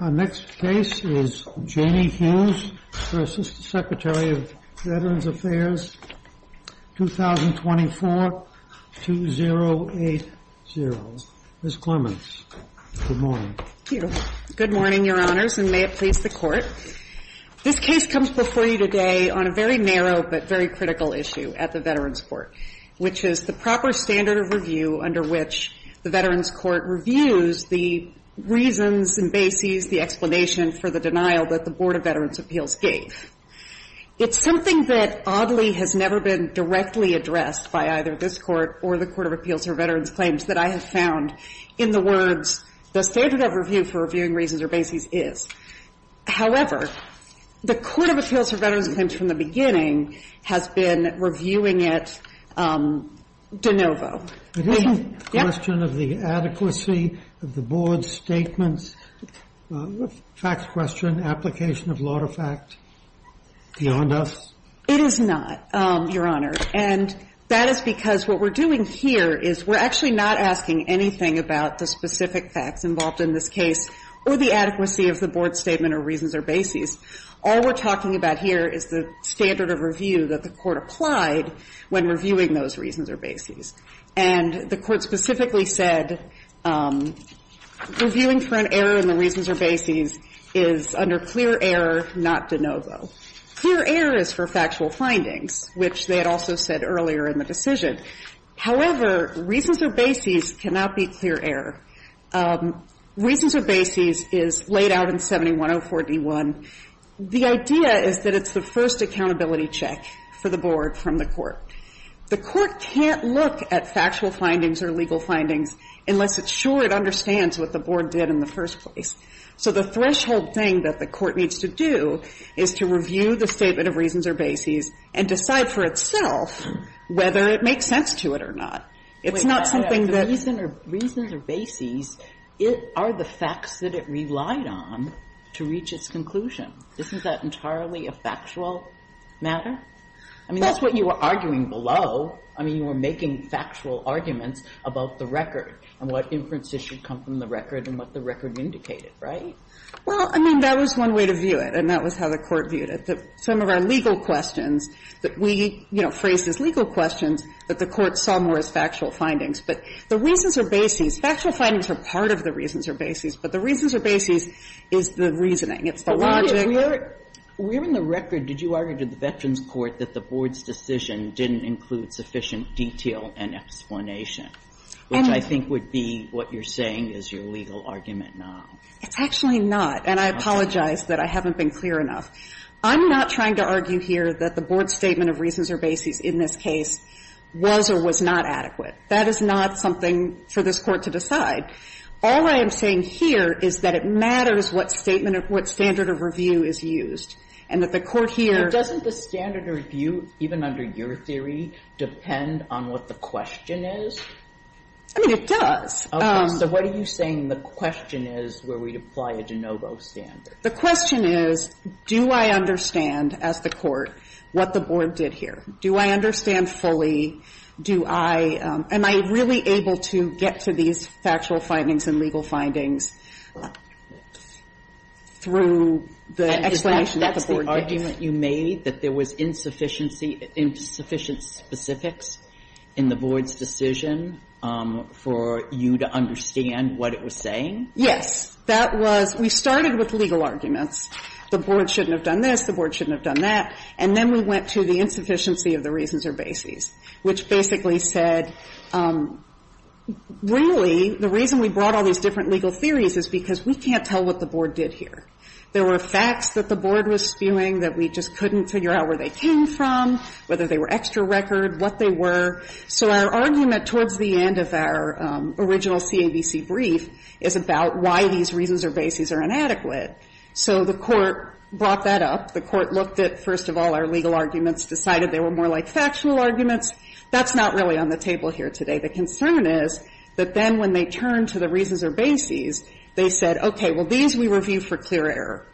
Our next case is Janie Hughes v. Secretary of Veterans Affairs, 2024-2080. Ms. Clements, good morning. Thank you. Good morning, Your Honors, and may it please the Court. This case comes before you today on a very narrow but very critical issue at the Veterans Court, which is the proper standard of review under which the Veterans Court reviews the reasons and bases, the explanation for the denial that the Board of Veterans Appeals gave. It's something that, oddly, has never been directly addressed by either this Court or the Court of Appeals for Veterans Claims that I have found in the words, the standard of review for reviewing reasons or bases is. However, the Court of Appeals for Veterans Claims from the beginning has been reviewing it de novo. It isn't a question of the adequacy of the Board's statements, a facts question, application of law to fact, beyond us? It is not, Your Honor, and that is because what we're doing here is we're actually not asking anything about the specific facts involved in this case or the adequacy of the Board's statement or reasons or bases. All we're talking about here is the standard of review that the Court applied when reviewing those reasons or bases. And the Court specifically said reviewing for an error in the reasons or bases is under clear error, not de novo. Clear error is for factual findings, which they had also said earlier in the decision. However, reasons or bases cannot be clear error. Reasons or bases is laid out in 7104d1. The idea is that it's the first accountability check for the Board from the Court. The Court can't look at factual findings or legal findings unless it's sure it understands what the Board did in the first place. So the threshold thing that the Court needs to do is to review the statement of reasons or bases and decide for itself whether it makes sense to it or not. It's not something that the reason or reasons or bases are the facts that it relied on to reach its conclusion. Isn't that entirely a factual matter? I mean, that's what you were arguing below. I mean, you were making factual arguments about the record and what inferences should come from the record and what the record indicated, right? Well, I mean, that was one way to view it, and that was how the Court viewed it. Some of our legal questions that we, you know, phrased as legal questions that the Court saw more as factual findings. But the reasons or bases, factual findings are part of the reasons or bases, but the reasons or bases is the reasoning, it's the logic. Kagan, if we're in the record, did you argue to the Veterans Court that the Board's decision didn't include sufficient detail and explanation, which I think would be what you're saying is your legal argument now? It's actually not, and I apologize that I haven't been clear enough. I'm not trying to argue here that the Board's statement of reasons or bases in this case was or was not adequate. That is not something for this Court to decide. All I am saying here is that it matters what statement or what standard of review is used, and that the Court here doesn't. But doesn't the standard of review, even under your theory, depend on what the question is? I mean, it does. Okay. So what are you saying the question is where we apply a de novo standard? The question is, do I understand, as the Court, what the Board did here? Do I understand fully? Do I am I really able to get to these factual findings and legal findings through the explanation that the Board gave? That's the argument you made, that there was insufficiency, insufficient specifics in the Board's decision for you to understand what it was saying? Yes. That was we started with legal arguments. The Board shouldn't have done this, the Board shouldn't have done that, and then we went to the insufficiency of the reasons or bases. Which basically said, really, the reason we brought all these different legal theories is because we can't tell what the Board did here. There were facts that the Board was spewing that we just couldn't figure out where they came from, whether they were extra record, what they were. So our argument towards the end of our original CAVC brief is about why these reasons or bases are inadequate. So the Court brought that up. The Court looked at, first of all, our legal arguments, decided they were more like factual arguments. That's not really on the table here today. The concern is that then when they turned to the reasons or bases, they said, okay, well, these we review for clear error.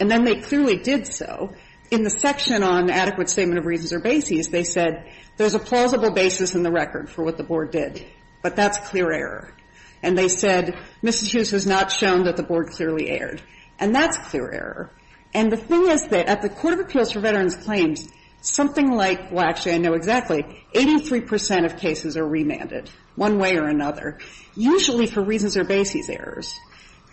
And then they clearly did so. In the section on adequate statement of reasons or bases, they said there's a plausible basis in the record for what the Board did, but that's clear error. And they said, Mississippi has not shown that the Board clearly erred. And that's clear error. And the thing is that at the Court of Appeals for Veterans Claims, something like, well, actually, I know exactly, 83 percent of cases are remanded, one way or another, usually for reasons or bases errors.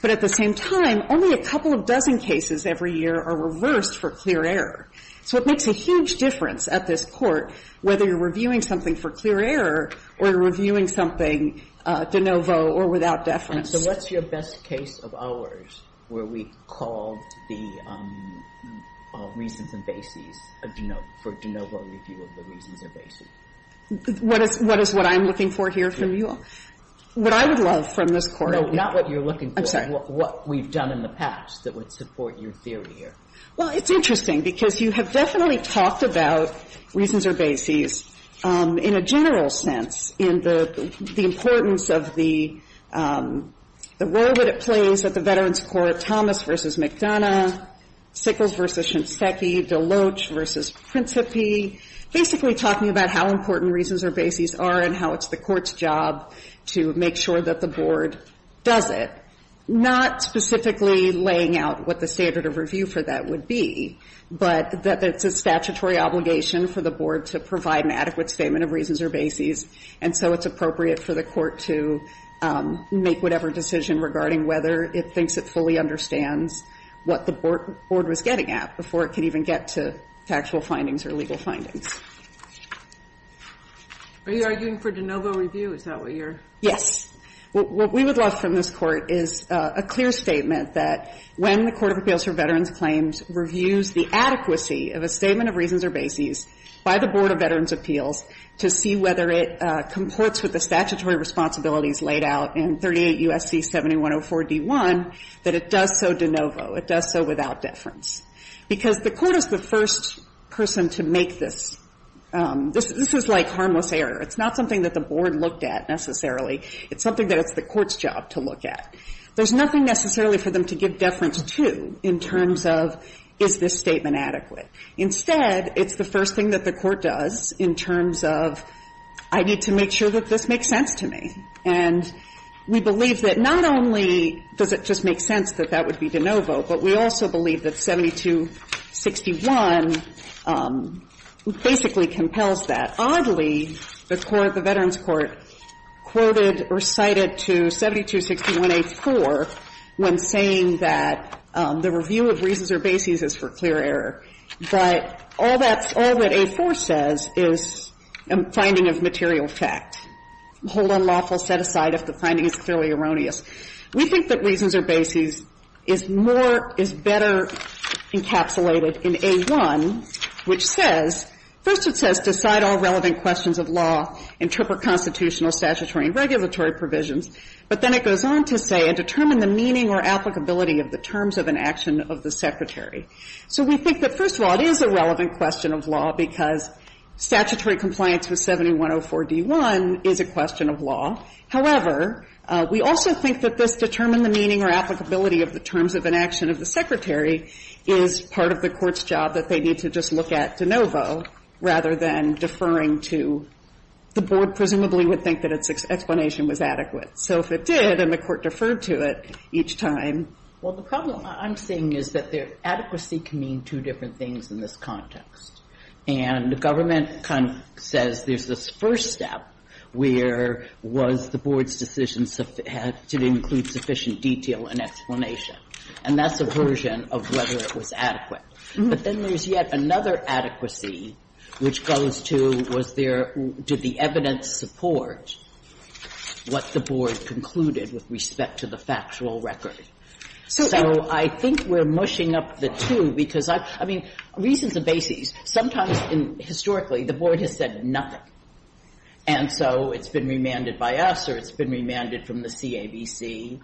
But at the same time, only a couple of dozen cases every year are reversed for clear error. So it makes a huge difference at this Court whether you're reviewing something for clear error or you're reviewing something de novo or without deference. And so what's your best case of ours where we called the reasons and bases for de novo review of the reasons or bases? What is what I'm looking for here from you all? What I would love from this Court would be the case of the reasons or bases. No, not what you're looking for. I'm sorry. What we've done in the past that would support your theory here. Well, it's interesting, because you have definitely talked about reasons or bases in a general sense in the importance of the role that it plays at the Veterans Court, Thomas v. McDonough, Sickles v. Shinseki, DeLoach v. Principi, basically talking about how important reasons or bases are and how it's the Court's job to make sure that the Board does it, not specifically laying out what the standard of review for that would be, but that it's a statutory obligation for the Board to provide an adequate statement of reasons or bases, and so it's appropriate for the Court to make whatever decision regarding whether it thinks it fully understands what the Board was getting at before it could even get to factual findings or legal findings. Are you arguing for de novo review? Is that what you're? Yes. What we would love from this Court is a clear statement that when the Court of Appeals for Veterans Claims reviews the adequacy of a statement of reasons or bases by the Board of Veterans Appeals to see whether it comports with the statutory responsibilities laid out in 38 U.S.C. 7104d.1, that it does so de novo, it does so without deference. Because the Court is the first person to make this. This is like harmless error. It's not something that the Board looked at, necessarily. It's something that it's the Court's job to look at. There's nothing necessarily for them to give deference to in terms of is this statement adequate. Instead, it's the first thing that the Court does in terms of I need to make sure that this makes sense to me. And we believe that not only does it just make sense that that would be de novo, but we also believe that 7261 basically compels that. And oddly, the Court, the Veterans Court, quoted or cited to 7261a-4 when saying that the review of reasons or bases is for clear error, but all that's all that a-4 says is a finding of material fact. Hold unlawful, set aside if the finding is clearly erroneous. We think that reasons or bases is more, is better encapsulated in a-1, which says First, it says decide all relevant questions of law, interpret constitutional, statutory, and regulatory provisions. But then it goes on to say, and determine the meaning or applicability of the terms of an action of the Secretary. So we think that, first of all, it is a relevant question of law because statutory compliance with 7104d-1 is a question of law. However, we also think that this determine the meaning or applicability of the terms of an action of the Secretary is part of the Court's job that they need to just look at de novo, rather than deferring to the Board presumably would think that its explanation was adequate. So if it did, and the Court deferred to it each time. Well, the problem I'm seeing is that adequacy can mean two different things in this context, and the government kind of says there's this first step where was the Board's decision to include sufficient detail and explanation, and that's a version of whether it was adequate. But then there's yet another adequacy which goes to was there do the evidence support what the Board concluded with respect to the factual record. So I think we're mushing up the two because I mean, reasons and bases. Sometimes historically the Board has said nothing, and so it's been remanded by us or it's been remanded from the CABC.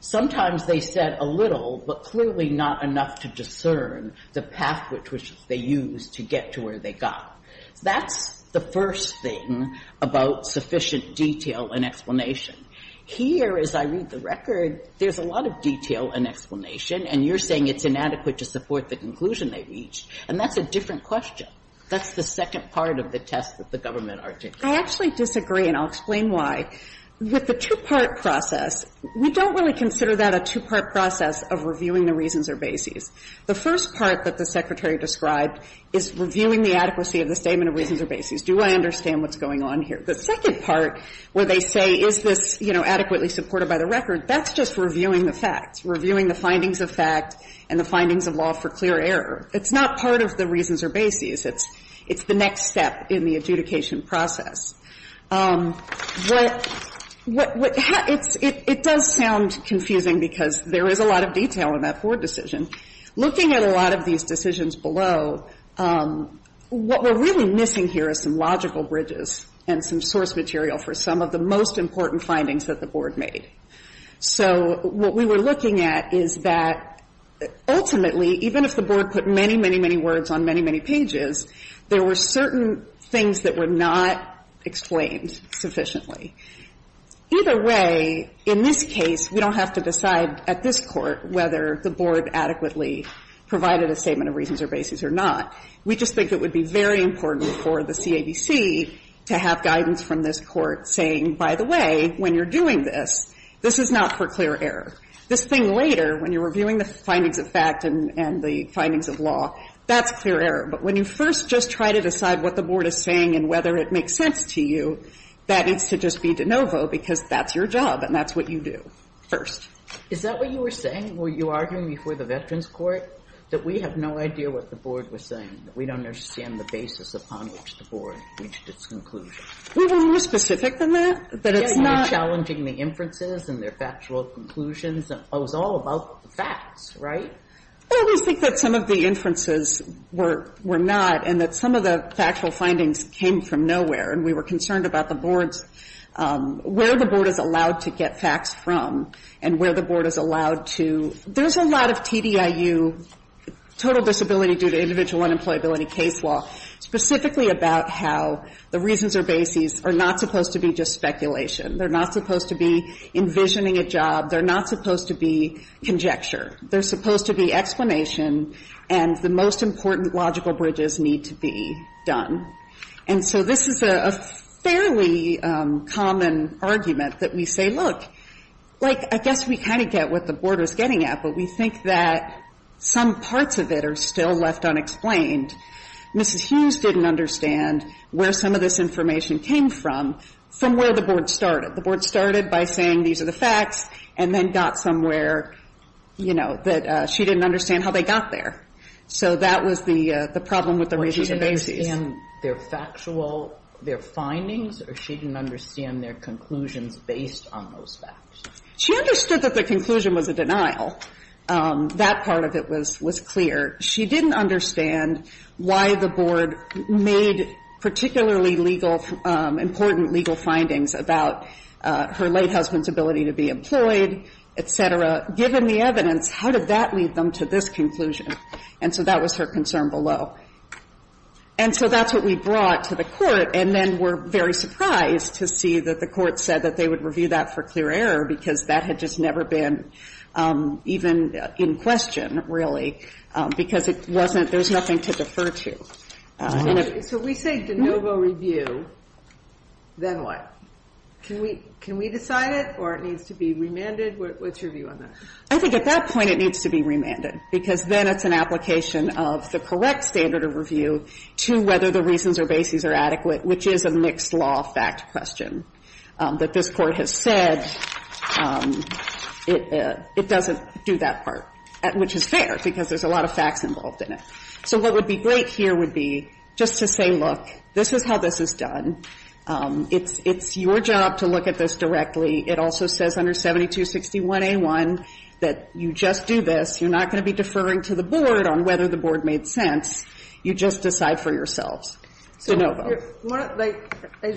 Sometimes they said a little, but clearly not enough to discern the path which they used to get to where they got. That's the first thing about sufficient detail and explanation. Here, as I read the record, there's a lot of detail and explanation, and you're saying it's inadequate to support the conclusion they reached, and that's a different question. That's the second part of the test that the government articulates. I actually disagree, and I'll explain why. With the two-part process, we don't really consider that a two-part process of reviewing the reasons or bases. The first part that the Secretary described is reviewing the adequacy of the statement of reasons or bases. Do I understand what's going on here? The second part where they say is this, you know, adequately supported by the record, that's just reviewing the facts, reviewing the findings of fact and the findings of law for clear error. It's not part of the reasons or bases. It's the next step in the adjudication process. What has – it does sound confusing because there is a lot of detail in that board decision. Looking at a lot of these decisions below, what we're really missing here is some logical bridges and some source material for some of the most important findings that the board made. So what we were looking at is that ultimately, even if the board put many, many, many words on many, many pages, there were certain things that were not explained sufficiently. Either way, in this case, we don't have to decide at this court whether the board adequately provided a statement of reasons or bases or not. We just think it would be very important for the CABC to have guidance from this court saying, by the way, when you're doing this, this is not for clear error. This thing later, when you're reviewing the findings of fact and the findings of law, that's clear error. But when you first just try to decide what the board is saying and whether it makes sense to you, that needs to just be de novo because that's your job and that's what you do first. Is that what you were saying when you were arguing before the Veterans Court, that we have no idea what the board was saying, that we don't understand the basis upon which the board reached its conclusion? We were more specific than that. That it's not – You were challenging the inferences and their factual conclusions. It was all about the facts, right? I always think that some of the inferences were not and that some of the factual findings came from nowhere, and we were concerned about the board's – where the board is allowed to get facts from and where the board is allowed to – there's a lot of TDIU, total disability due to individual unemployability case law, specifically about how the reasons or bases are not supposed to be just speculation. They're not supposed to be envisioning a job. They're not supposed to be conjecture. They're supposed to be explanation and the most important logical bridges need to be done. And so this is a fairly common argument that we say, look, like, I guess we kind of get what the board is getting at, but we think that some parts of it are still left unexplained. Mrs. Hughes didn't understand where some of this information came from, from where the board started. The board started by saying, these are the facts, and then got somewhere, you know, that she didn't understand how they got there. So that was the problem with the reasons or bases. What, she didn't understand their factual – their findings, or she didn't understand their conclusions based on those facts? She understood that the conclusion was a denial. That part of it was clear. She didn't understand why the board made particularly legal – important legal findings about her late husband's ability to be employed, et cetera. Given the evidence, how did that lead them to this conclusion? And so that was her concern below. And so that's what we brought to the Court, and then were very surprised to see that the Court said that they would review that for clear error because that had just never been even in question, really, because it wasn't – there's nothing to defer to. And if – So if we say de novo review, then what? Can we – can we decide it, or it needs to be remanded? What's your view on that? I think at that point, it needs to be remanded, because then it's an application of the correct standard of review to whether the reasons or bases are adequate, which is a mixed-law fact question that this Court has said it doesn't do that part, which is fair, because there's a lot of facts involved in it. So what would be great here would be just to say, look, this is how this is done. It's your job to look at this directly. It also says under 7261A1 that you just do this. You're not going to be deferring to the Board on whether the Board made sense. You just decide for yourselves. De novo. I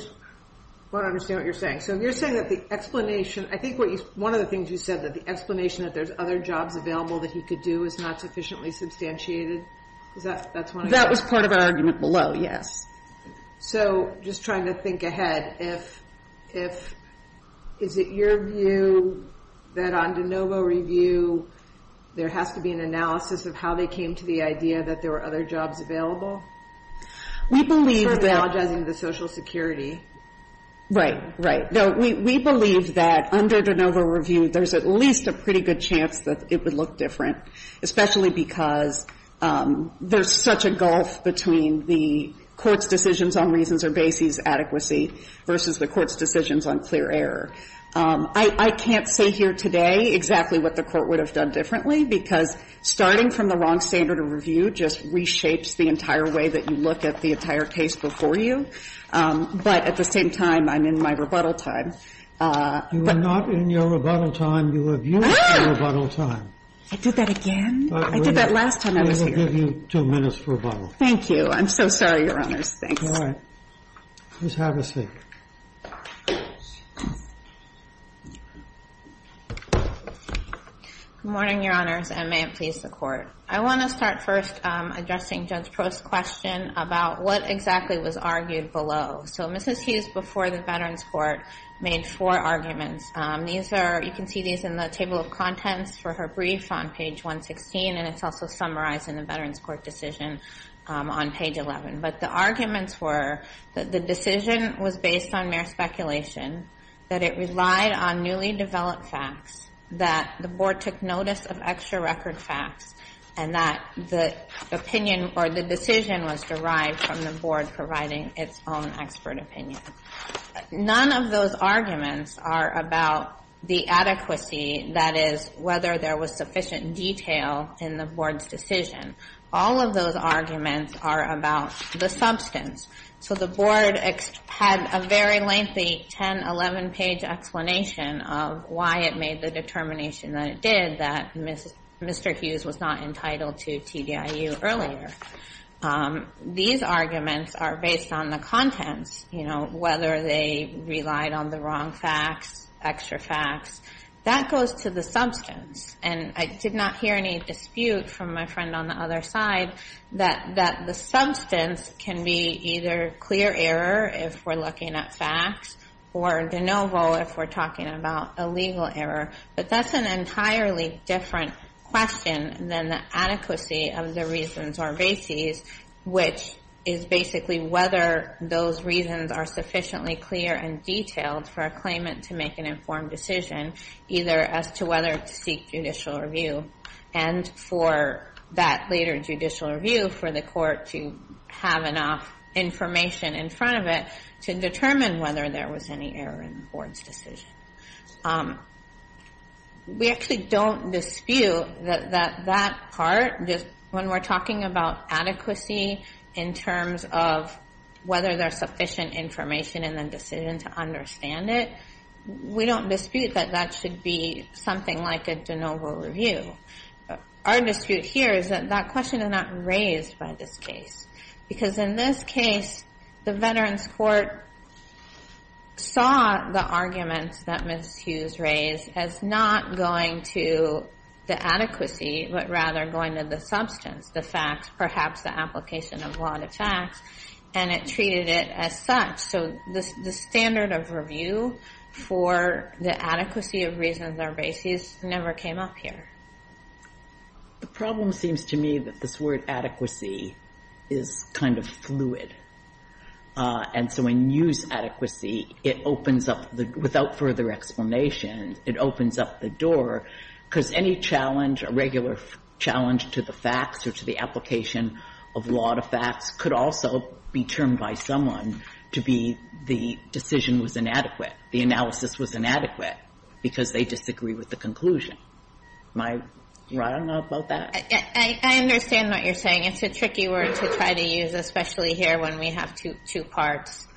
want to understand what you're saying. So you're saying that the explanation – I think what you – one of the things you said, that the explanation that there's other jobs available that he could do is not sufficiently substantiated? Is that – that's what I'm saying? That was part of our argument below, yes. So just trying to think ahead, if – is it your view that on de novo review, there has to be an analysis of how they came to the idea that there were other jobs available? We believe that – I'm apologizing to the Social Security. Right. Right. No, we believe that under de novo review, there's at least a pretty good chance that it would look different, especially because there's such a gulf between the Court's decisions on reasons or bases adequacy versus the Court's decisions on clear error. I can't say here today exactly what the Court would have done differently, because starting from the wrong standard of review just reshapes the entire way that you look at the entire case before you. But at the same time, I'm in my rebuttal time. You are not in your rebuttal time. You have used your rebuttal time. I did that again? I did that last time I was here. We will give you two minutes rebuttal. Thank you. I'm so sorry, Your Honors. Thanks. All right. Please have a seat. Good morning, Your Honors, and may it please the Court. I want to start first addressing Judge Prost's question about what exactly was argued below. So Mrs. Hughes, before the Veterans Court, made four arguments. These are, you can see these in the table of contents for her brief on page 116, and it's also summarized in the Veterans Court decision on page 11. But the arguments were that the decision was based on mere speculation, that it relied on newly developed facts, that the Board took notice of extra record facts, and that the opinion or the decision was derived from the Board providing its own expert opinion. None of those arguments are about the adequacy, that is, whether there was sufficient detail in the Board's decision. All of those arguments are about the substance. So the Board had a very lengthy 10, 11-page explanation of why it made the determination that it did, that Mr. Hughes was not entitled to TDIU earlier. These arguments are based on the contents, you know, whether they relied on the wrong facts, extra facts. That goes to the substance, and I did not hear any dispute from my friend on the other side that the substance can be either clear error if we're looking at facts, or de novo if we're talking about a legal error. But that's an entirely different question than the adequacy of the reasons or bases, which is basically whether those reasons are sufficiently clear and detailed for a claimant to make an informed decision, either as to whether to seek judicial review and for that later judicial review for the court to have enough information in front of it to determine whether there was any error in the Board's decision. We actually don't dispute that that part, when we're talking about adequacy in terms of whether there's sufficient information in the decision to understand it, we don't dispute that that should be something like a de novo review. Our dispute here is that that question is not raised by this case, because in this case, the Veterans Court saw the arguments that Ms. Hughes raised as not going to the adequacy, but rather going to the substance, the facts, perhaps the application of a lot of facts, and it treated it as such. So the standard of review for the adequacy of reasons or bases never came up here. The problem seems to me that this word adequacy is kind of fluid. And so when you use adequacy, it opens up the – without further explanation, it opens up the door, because any challenge, a regular challenge to the facts or to the application of a lot of facts could also be termed by someone to be the decision was inadequate, the analysis was inadequate, because they disagree with the conclusion. Am I right on about that? I understand what you're saying. It's a tricky word to try to use, especially here when we have two parts.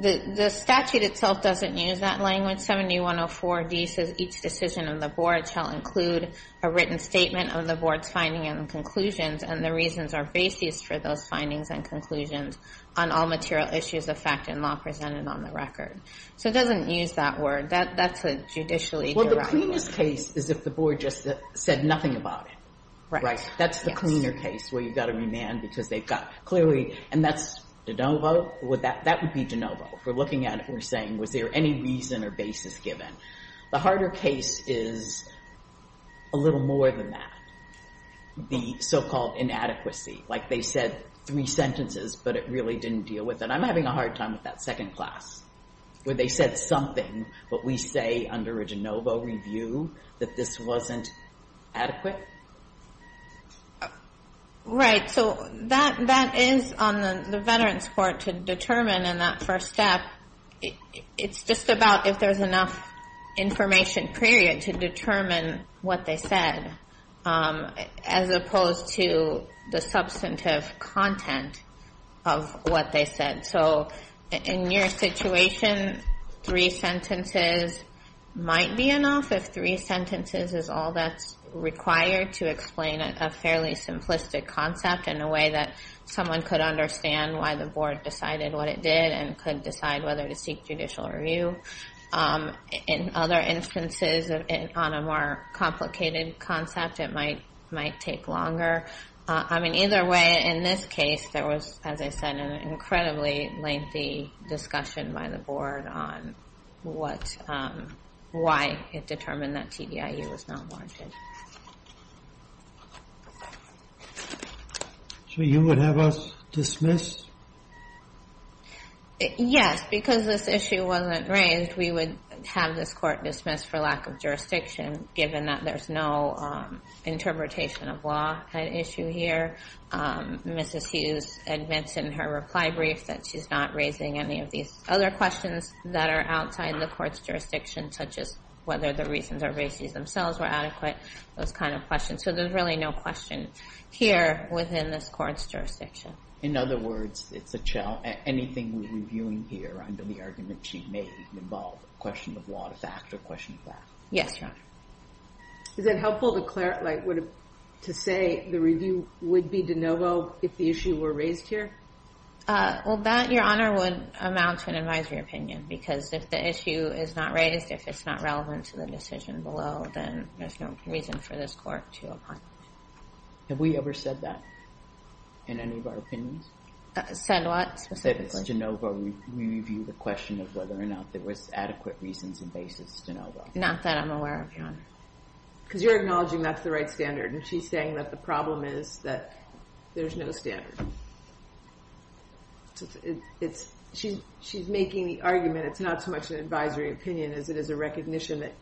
The statute itself doesn't use that language. 7104D says each decision of the board shall include a written statement of the board's findings and conclusions, and the reasons or bases for those findings and conclusions on all material issues of fact and law presented on the record. So it doesn't use that word. That's a judicially derived word. The cleanest case is if the board just said nothing about it. Right. That's the cleaner case where you've got to remand because they've got clearly – and that's de novo. That would be de novo. If we're looking at it and we're saying, was there any reason or basis given? The harder case is a little more than that, the so-called inadequacy. Like they said three sentences, but it really didn't deal with it. I'm having a hard time with that second class, where they said something, but we say under a de novo review that this wasn't adequate. Right. So that is on the Veterans Court to determine in that first step. It's just about if there's enough information, period, to determine what they said, as opposed to the substantive content of what they said. So in your situation, three sentences might be enough, if three sentences is all that's required to explain a fairly simplistic concept in a way that someone could understand why the board decided what it did and could decide whether to seek judicial review. In other instances, on a more complicated concept, it might take longer. I mean, either way, in this case, there was, as I said, an incredibly lengthy discussion by the board on why it determined that TDIU was not warranted. So you would have us dismiss? Yes. Because this issue wasn't raised, we would have this court dismiss for lack of jurisdiction, given that there's no interpretation of law at issue here. Mrs. Hughes admits in her reply brief that she's not raising any of these other questions that are outside the court's jurisdiction, such as whether the reasons or bases themselves were adequate, those kind of questions. So there's really no question here within this court's jurisdiction. In other words, it's a challenge. Anything we're reviewing here under the argument she made involved a question of fact or a question of fact. Yes, Your Honor. Is it helpful to say the review would be de novo if the issue were raised here? Well, that, Your Honor, would amount to an advisory opinion. Because if the issue is not raised, if it's not relevant to the decision below, then there's no reason for this court to oppose it. Have we ever said that in any of our opinions? Said what specifically? We review the question of whether or not there was adequate reasons and basis de novo. Not that I'm aware of, Your Honor. Because you're acknowledging that's the right standard. And she's saying that the problem is that there's no standard. She's making the argument, it's not so much an advisory opinion, as it is a recognition that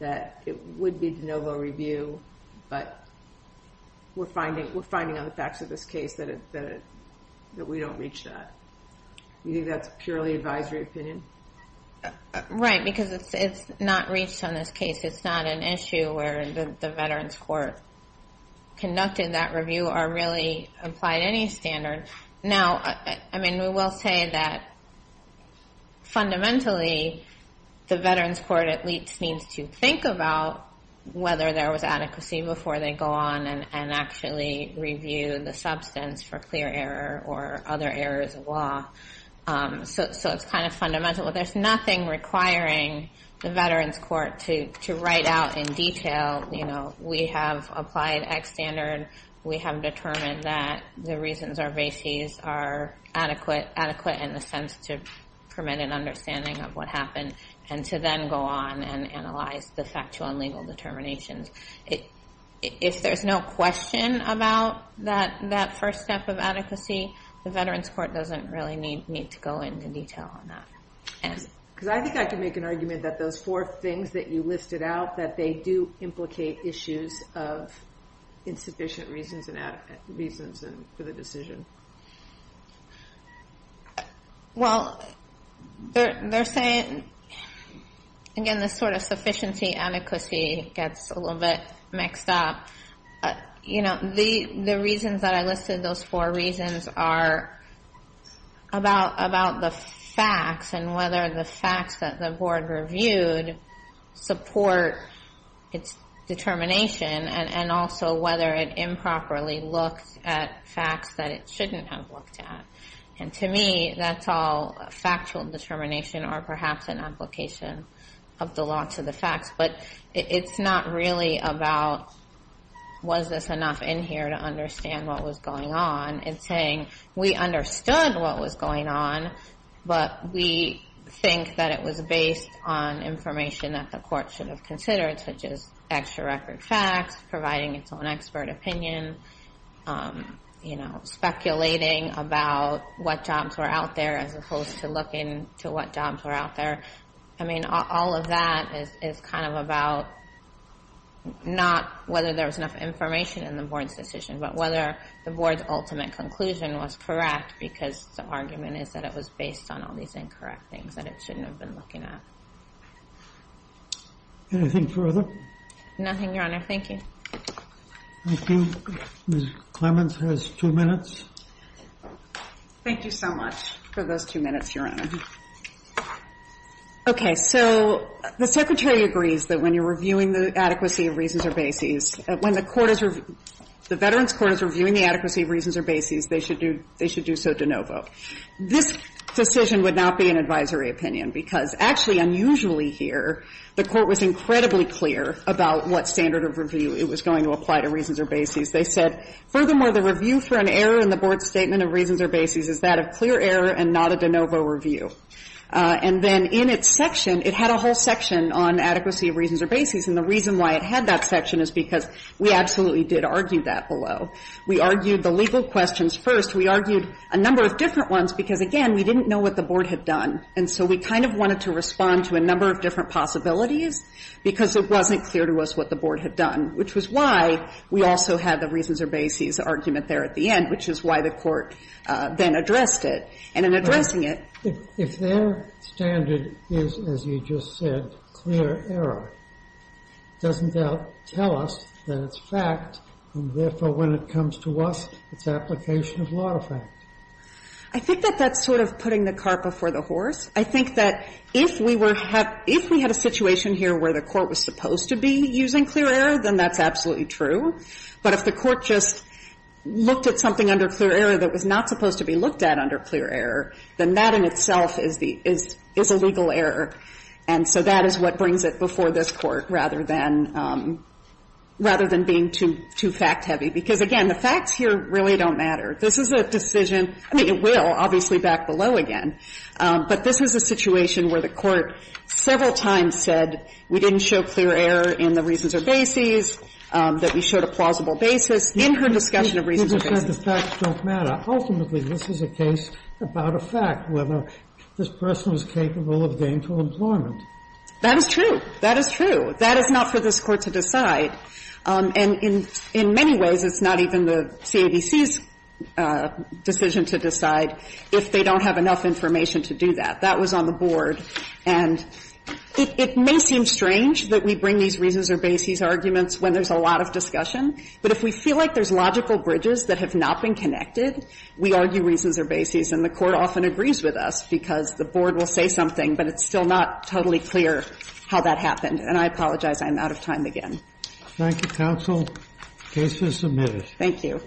it would be de novo review. But we're finding on the facts of this case that we don't reach that. You think that's purely advisory opinion? Right, because it's not reached on this case. It's not an issue where the Veterans Court conducted that review or really applied any standard. Now, I mean, we will say that fundamentally, the Veterans Court at least needs to think about whether there was adequacy before they go on and actually review the substance for clear error or other errors of law. So it's kind of fundamental. There's nothing requiring the Veterans Court to write out in detail. We have applied X standard. We have determined that the reasons are basis are adequate in the sense to understanding of what happened and to then go on and analyze the factual and legal determinations. If there's no question about that first step of adequacy, the Veterans Court doesn't really need to go into detail on that. Because I think I can make an argument that those four things that you listed out, that they do implicate issues of insufficient reasons and reasons for the decision. Well, they're saying, again, this sort of sufficiency, adequacy gets a little bit mixed up. You know, the reasons that I listed, those four reasons are about the facts and whether the facts that the board reviewed support its determination and also whether it improperly looked at facts that it shouldn't have looked at. And to me, that's all factual determination or perhaps an application of the law to the facts. But it's not really about, was this enough in here to understand what was going on? It's saying, we understood what was going on, but we think that it was based on information that the court should have considered, such as extra record facts, providing its own expert opinion, you know, speculating about what jobs were out there as opposed to looking to what jobs were out there. I mean, all of that is kind of about not whether there was enough information in the board's decision, but whether the board's ultimate conclusion was correct because the argument is that it was based on all these incorrect things that it shouldn't have been looking at. Anything further? Nothing, Your Honor. Thank you. Thank you. Ms. Clements has two minutes. Thank you so much for those two minutes, Your Honor. Okay. So the Secretary agrees that when you're reviewing the adequacy of reasons or bases, when the court is reviewing, the Veterans Court is reviewing the adequacy of reasons or bases, they should do so de novo. This decision would not be an advisory opinion because actually, unusually here, the court was incredibly clear about what standard of review it was going to apply to reasons or bases. They said, furthermore, the review for an error in the board's statement of reasons or bases is that of clear error and not a de novo review. And then in its section, it had a whole section on adequacy of reasons or bases, and the reason why it had that section is because we absolutely did argue that below. We argued the legal questions first. We argued a number of different ones because, again, we didn't know what the board had done. And so we kind of wanted to respond to a number of different possibilities because it wasn't clear to us what the board had done, which was why we also had the reasons or bases argument there at the end, which is why the court then addressed it. And in addressing it ---- If their standard is, as you just said, clear error, doesn't that tell us that it's fact, and therefore when it comes to us, it's application of law to fact? I think that that's sort of putting the cart before the horse. I think that if we were to have ---- if we had a situation here where the court was supposed to be using clear error, then that's absolutely true. But if the court just looked at something under clear error that was not supposed to be looked at under clear error, then that in itself is the ---- is a legal error. And so that is what brings it before this Court rather than ---- rather than being too fact-heavy. Because, again, the facts here really don't matter. This is a decision ---- I mean, it will, obviously, back below again. But this is a situation where the court several times said we didn't show clear error in the reasons or bases, that we showed a plausible basis in her discussion of reasons or bases. You just said the facts don't matter. Ultimately, this is a case about a fact, whether this person was capable of gainful employment. That is true. That is true. That is not for this Court to decide. And in many ways, it's not even the CABC's decision to decide if they don't have enough information to do that. That was on the board. And it may seem strange that we bring these reasons or bases arguments when there's a lot of discussion. But if we feel like there's logical bridges that have not been connected, we argue reasons or bases. And the Court often agrees with us because the board will say something, but it's still not totally clear how that happened. And I apologize. I'm out of time again. Thank you, counsel. The case is submitted. Thank you.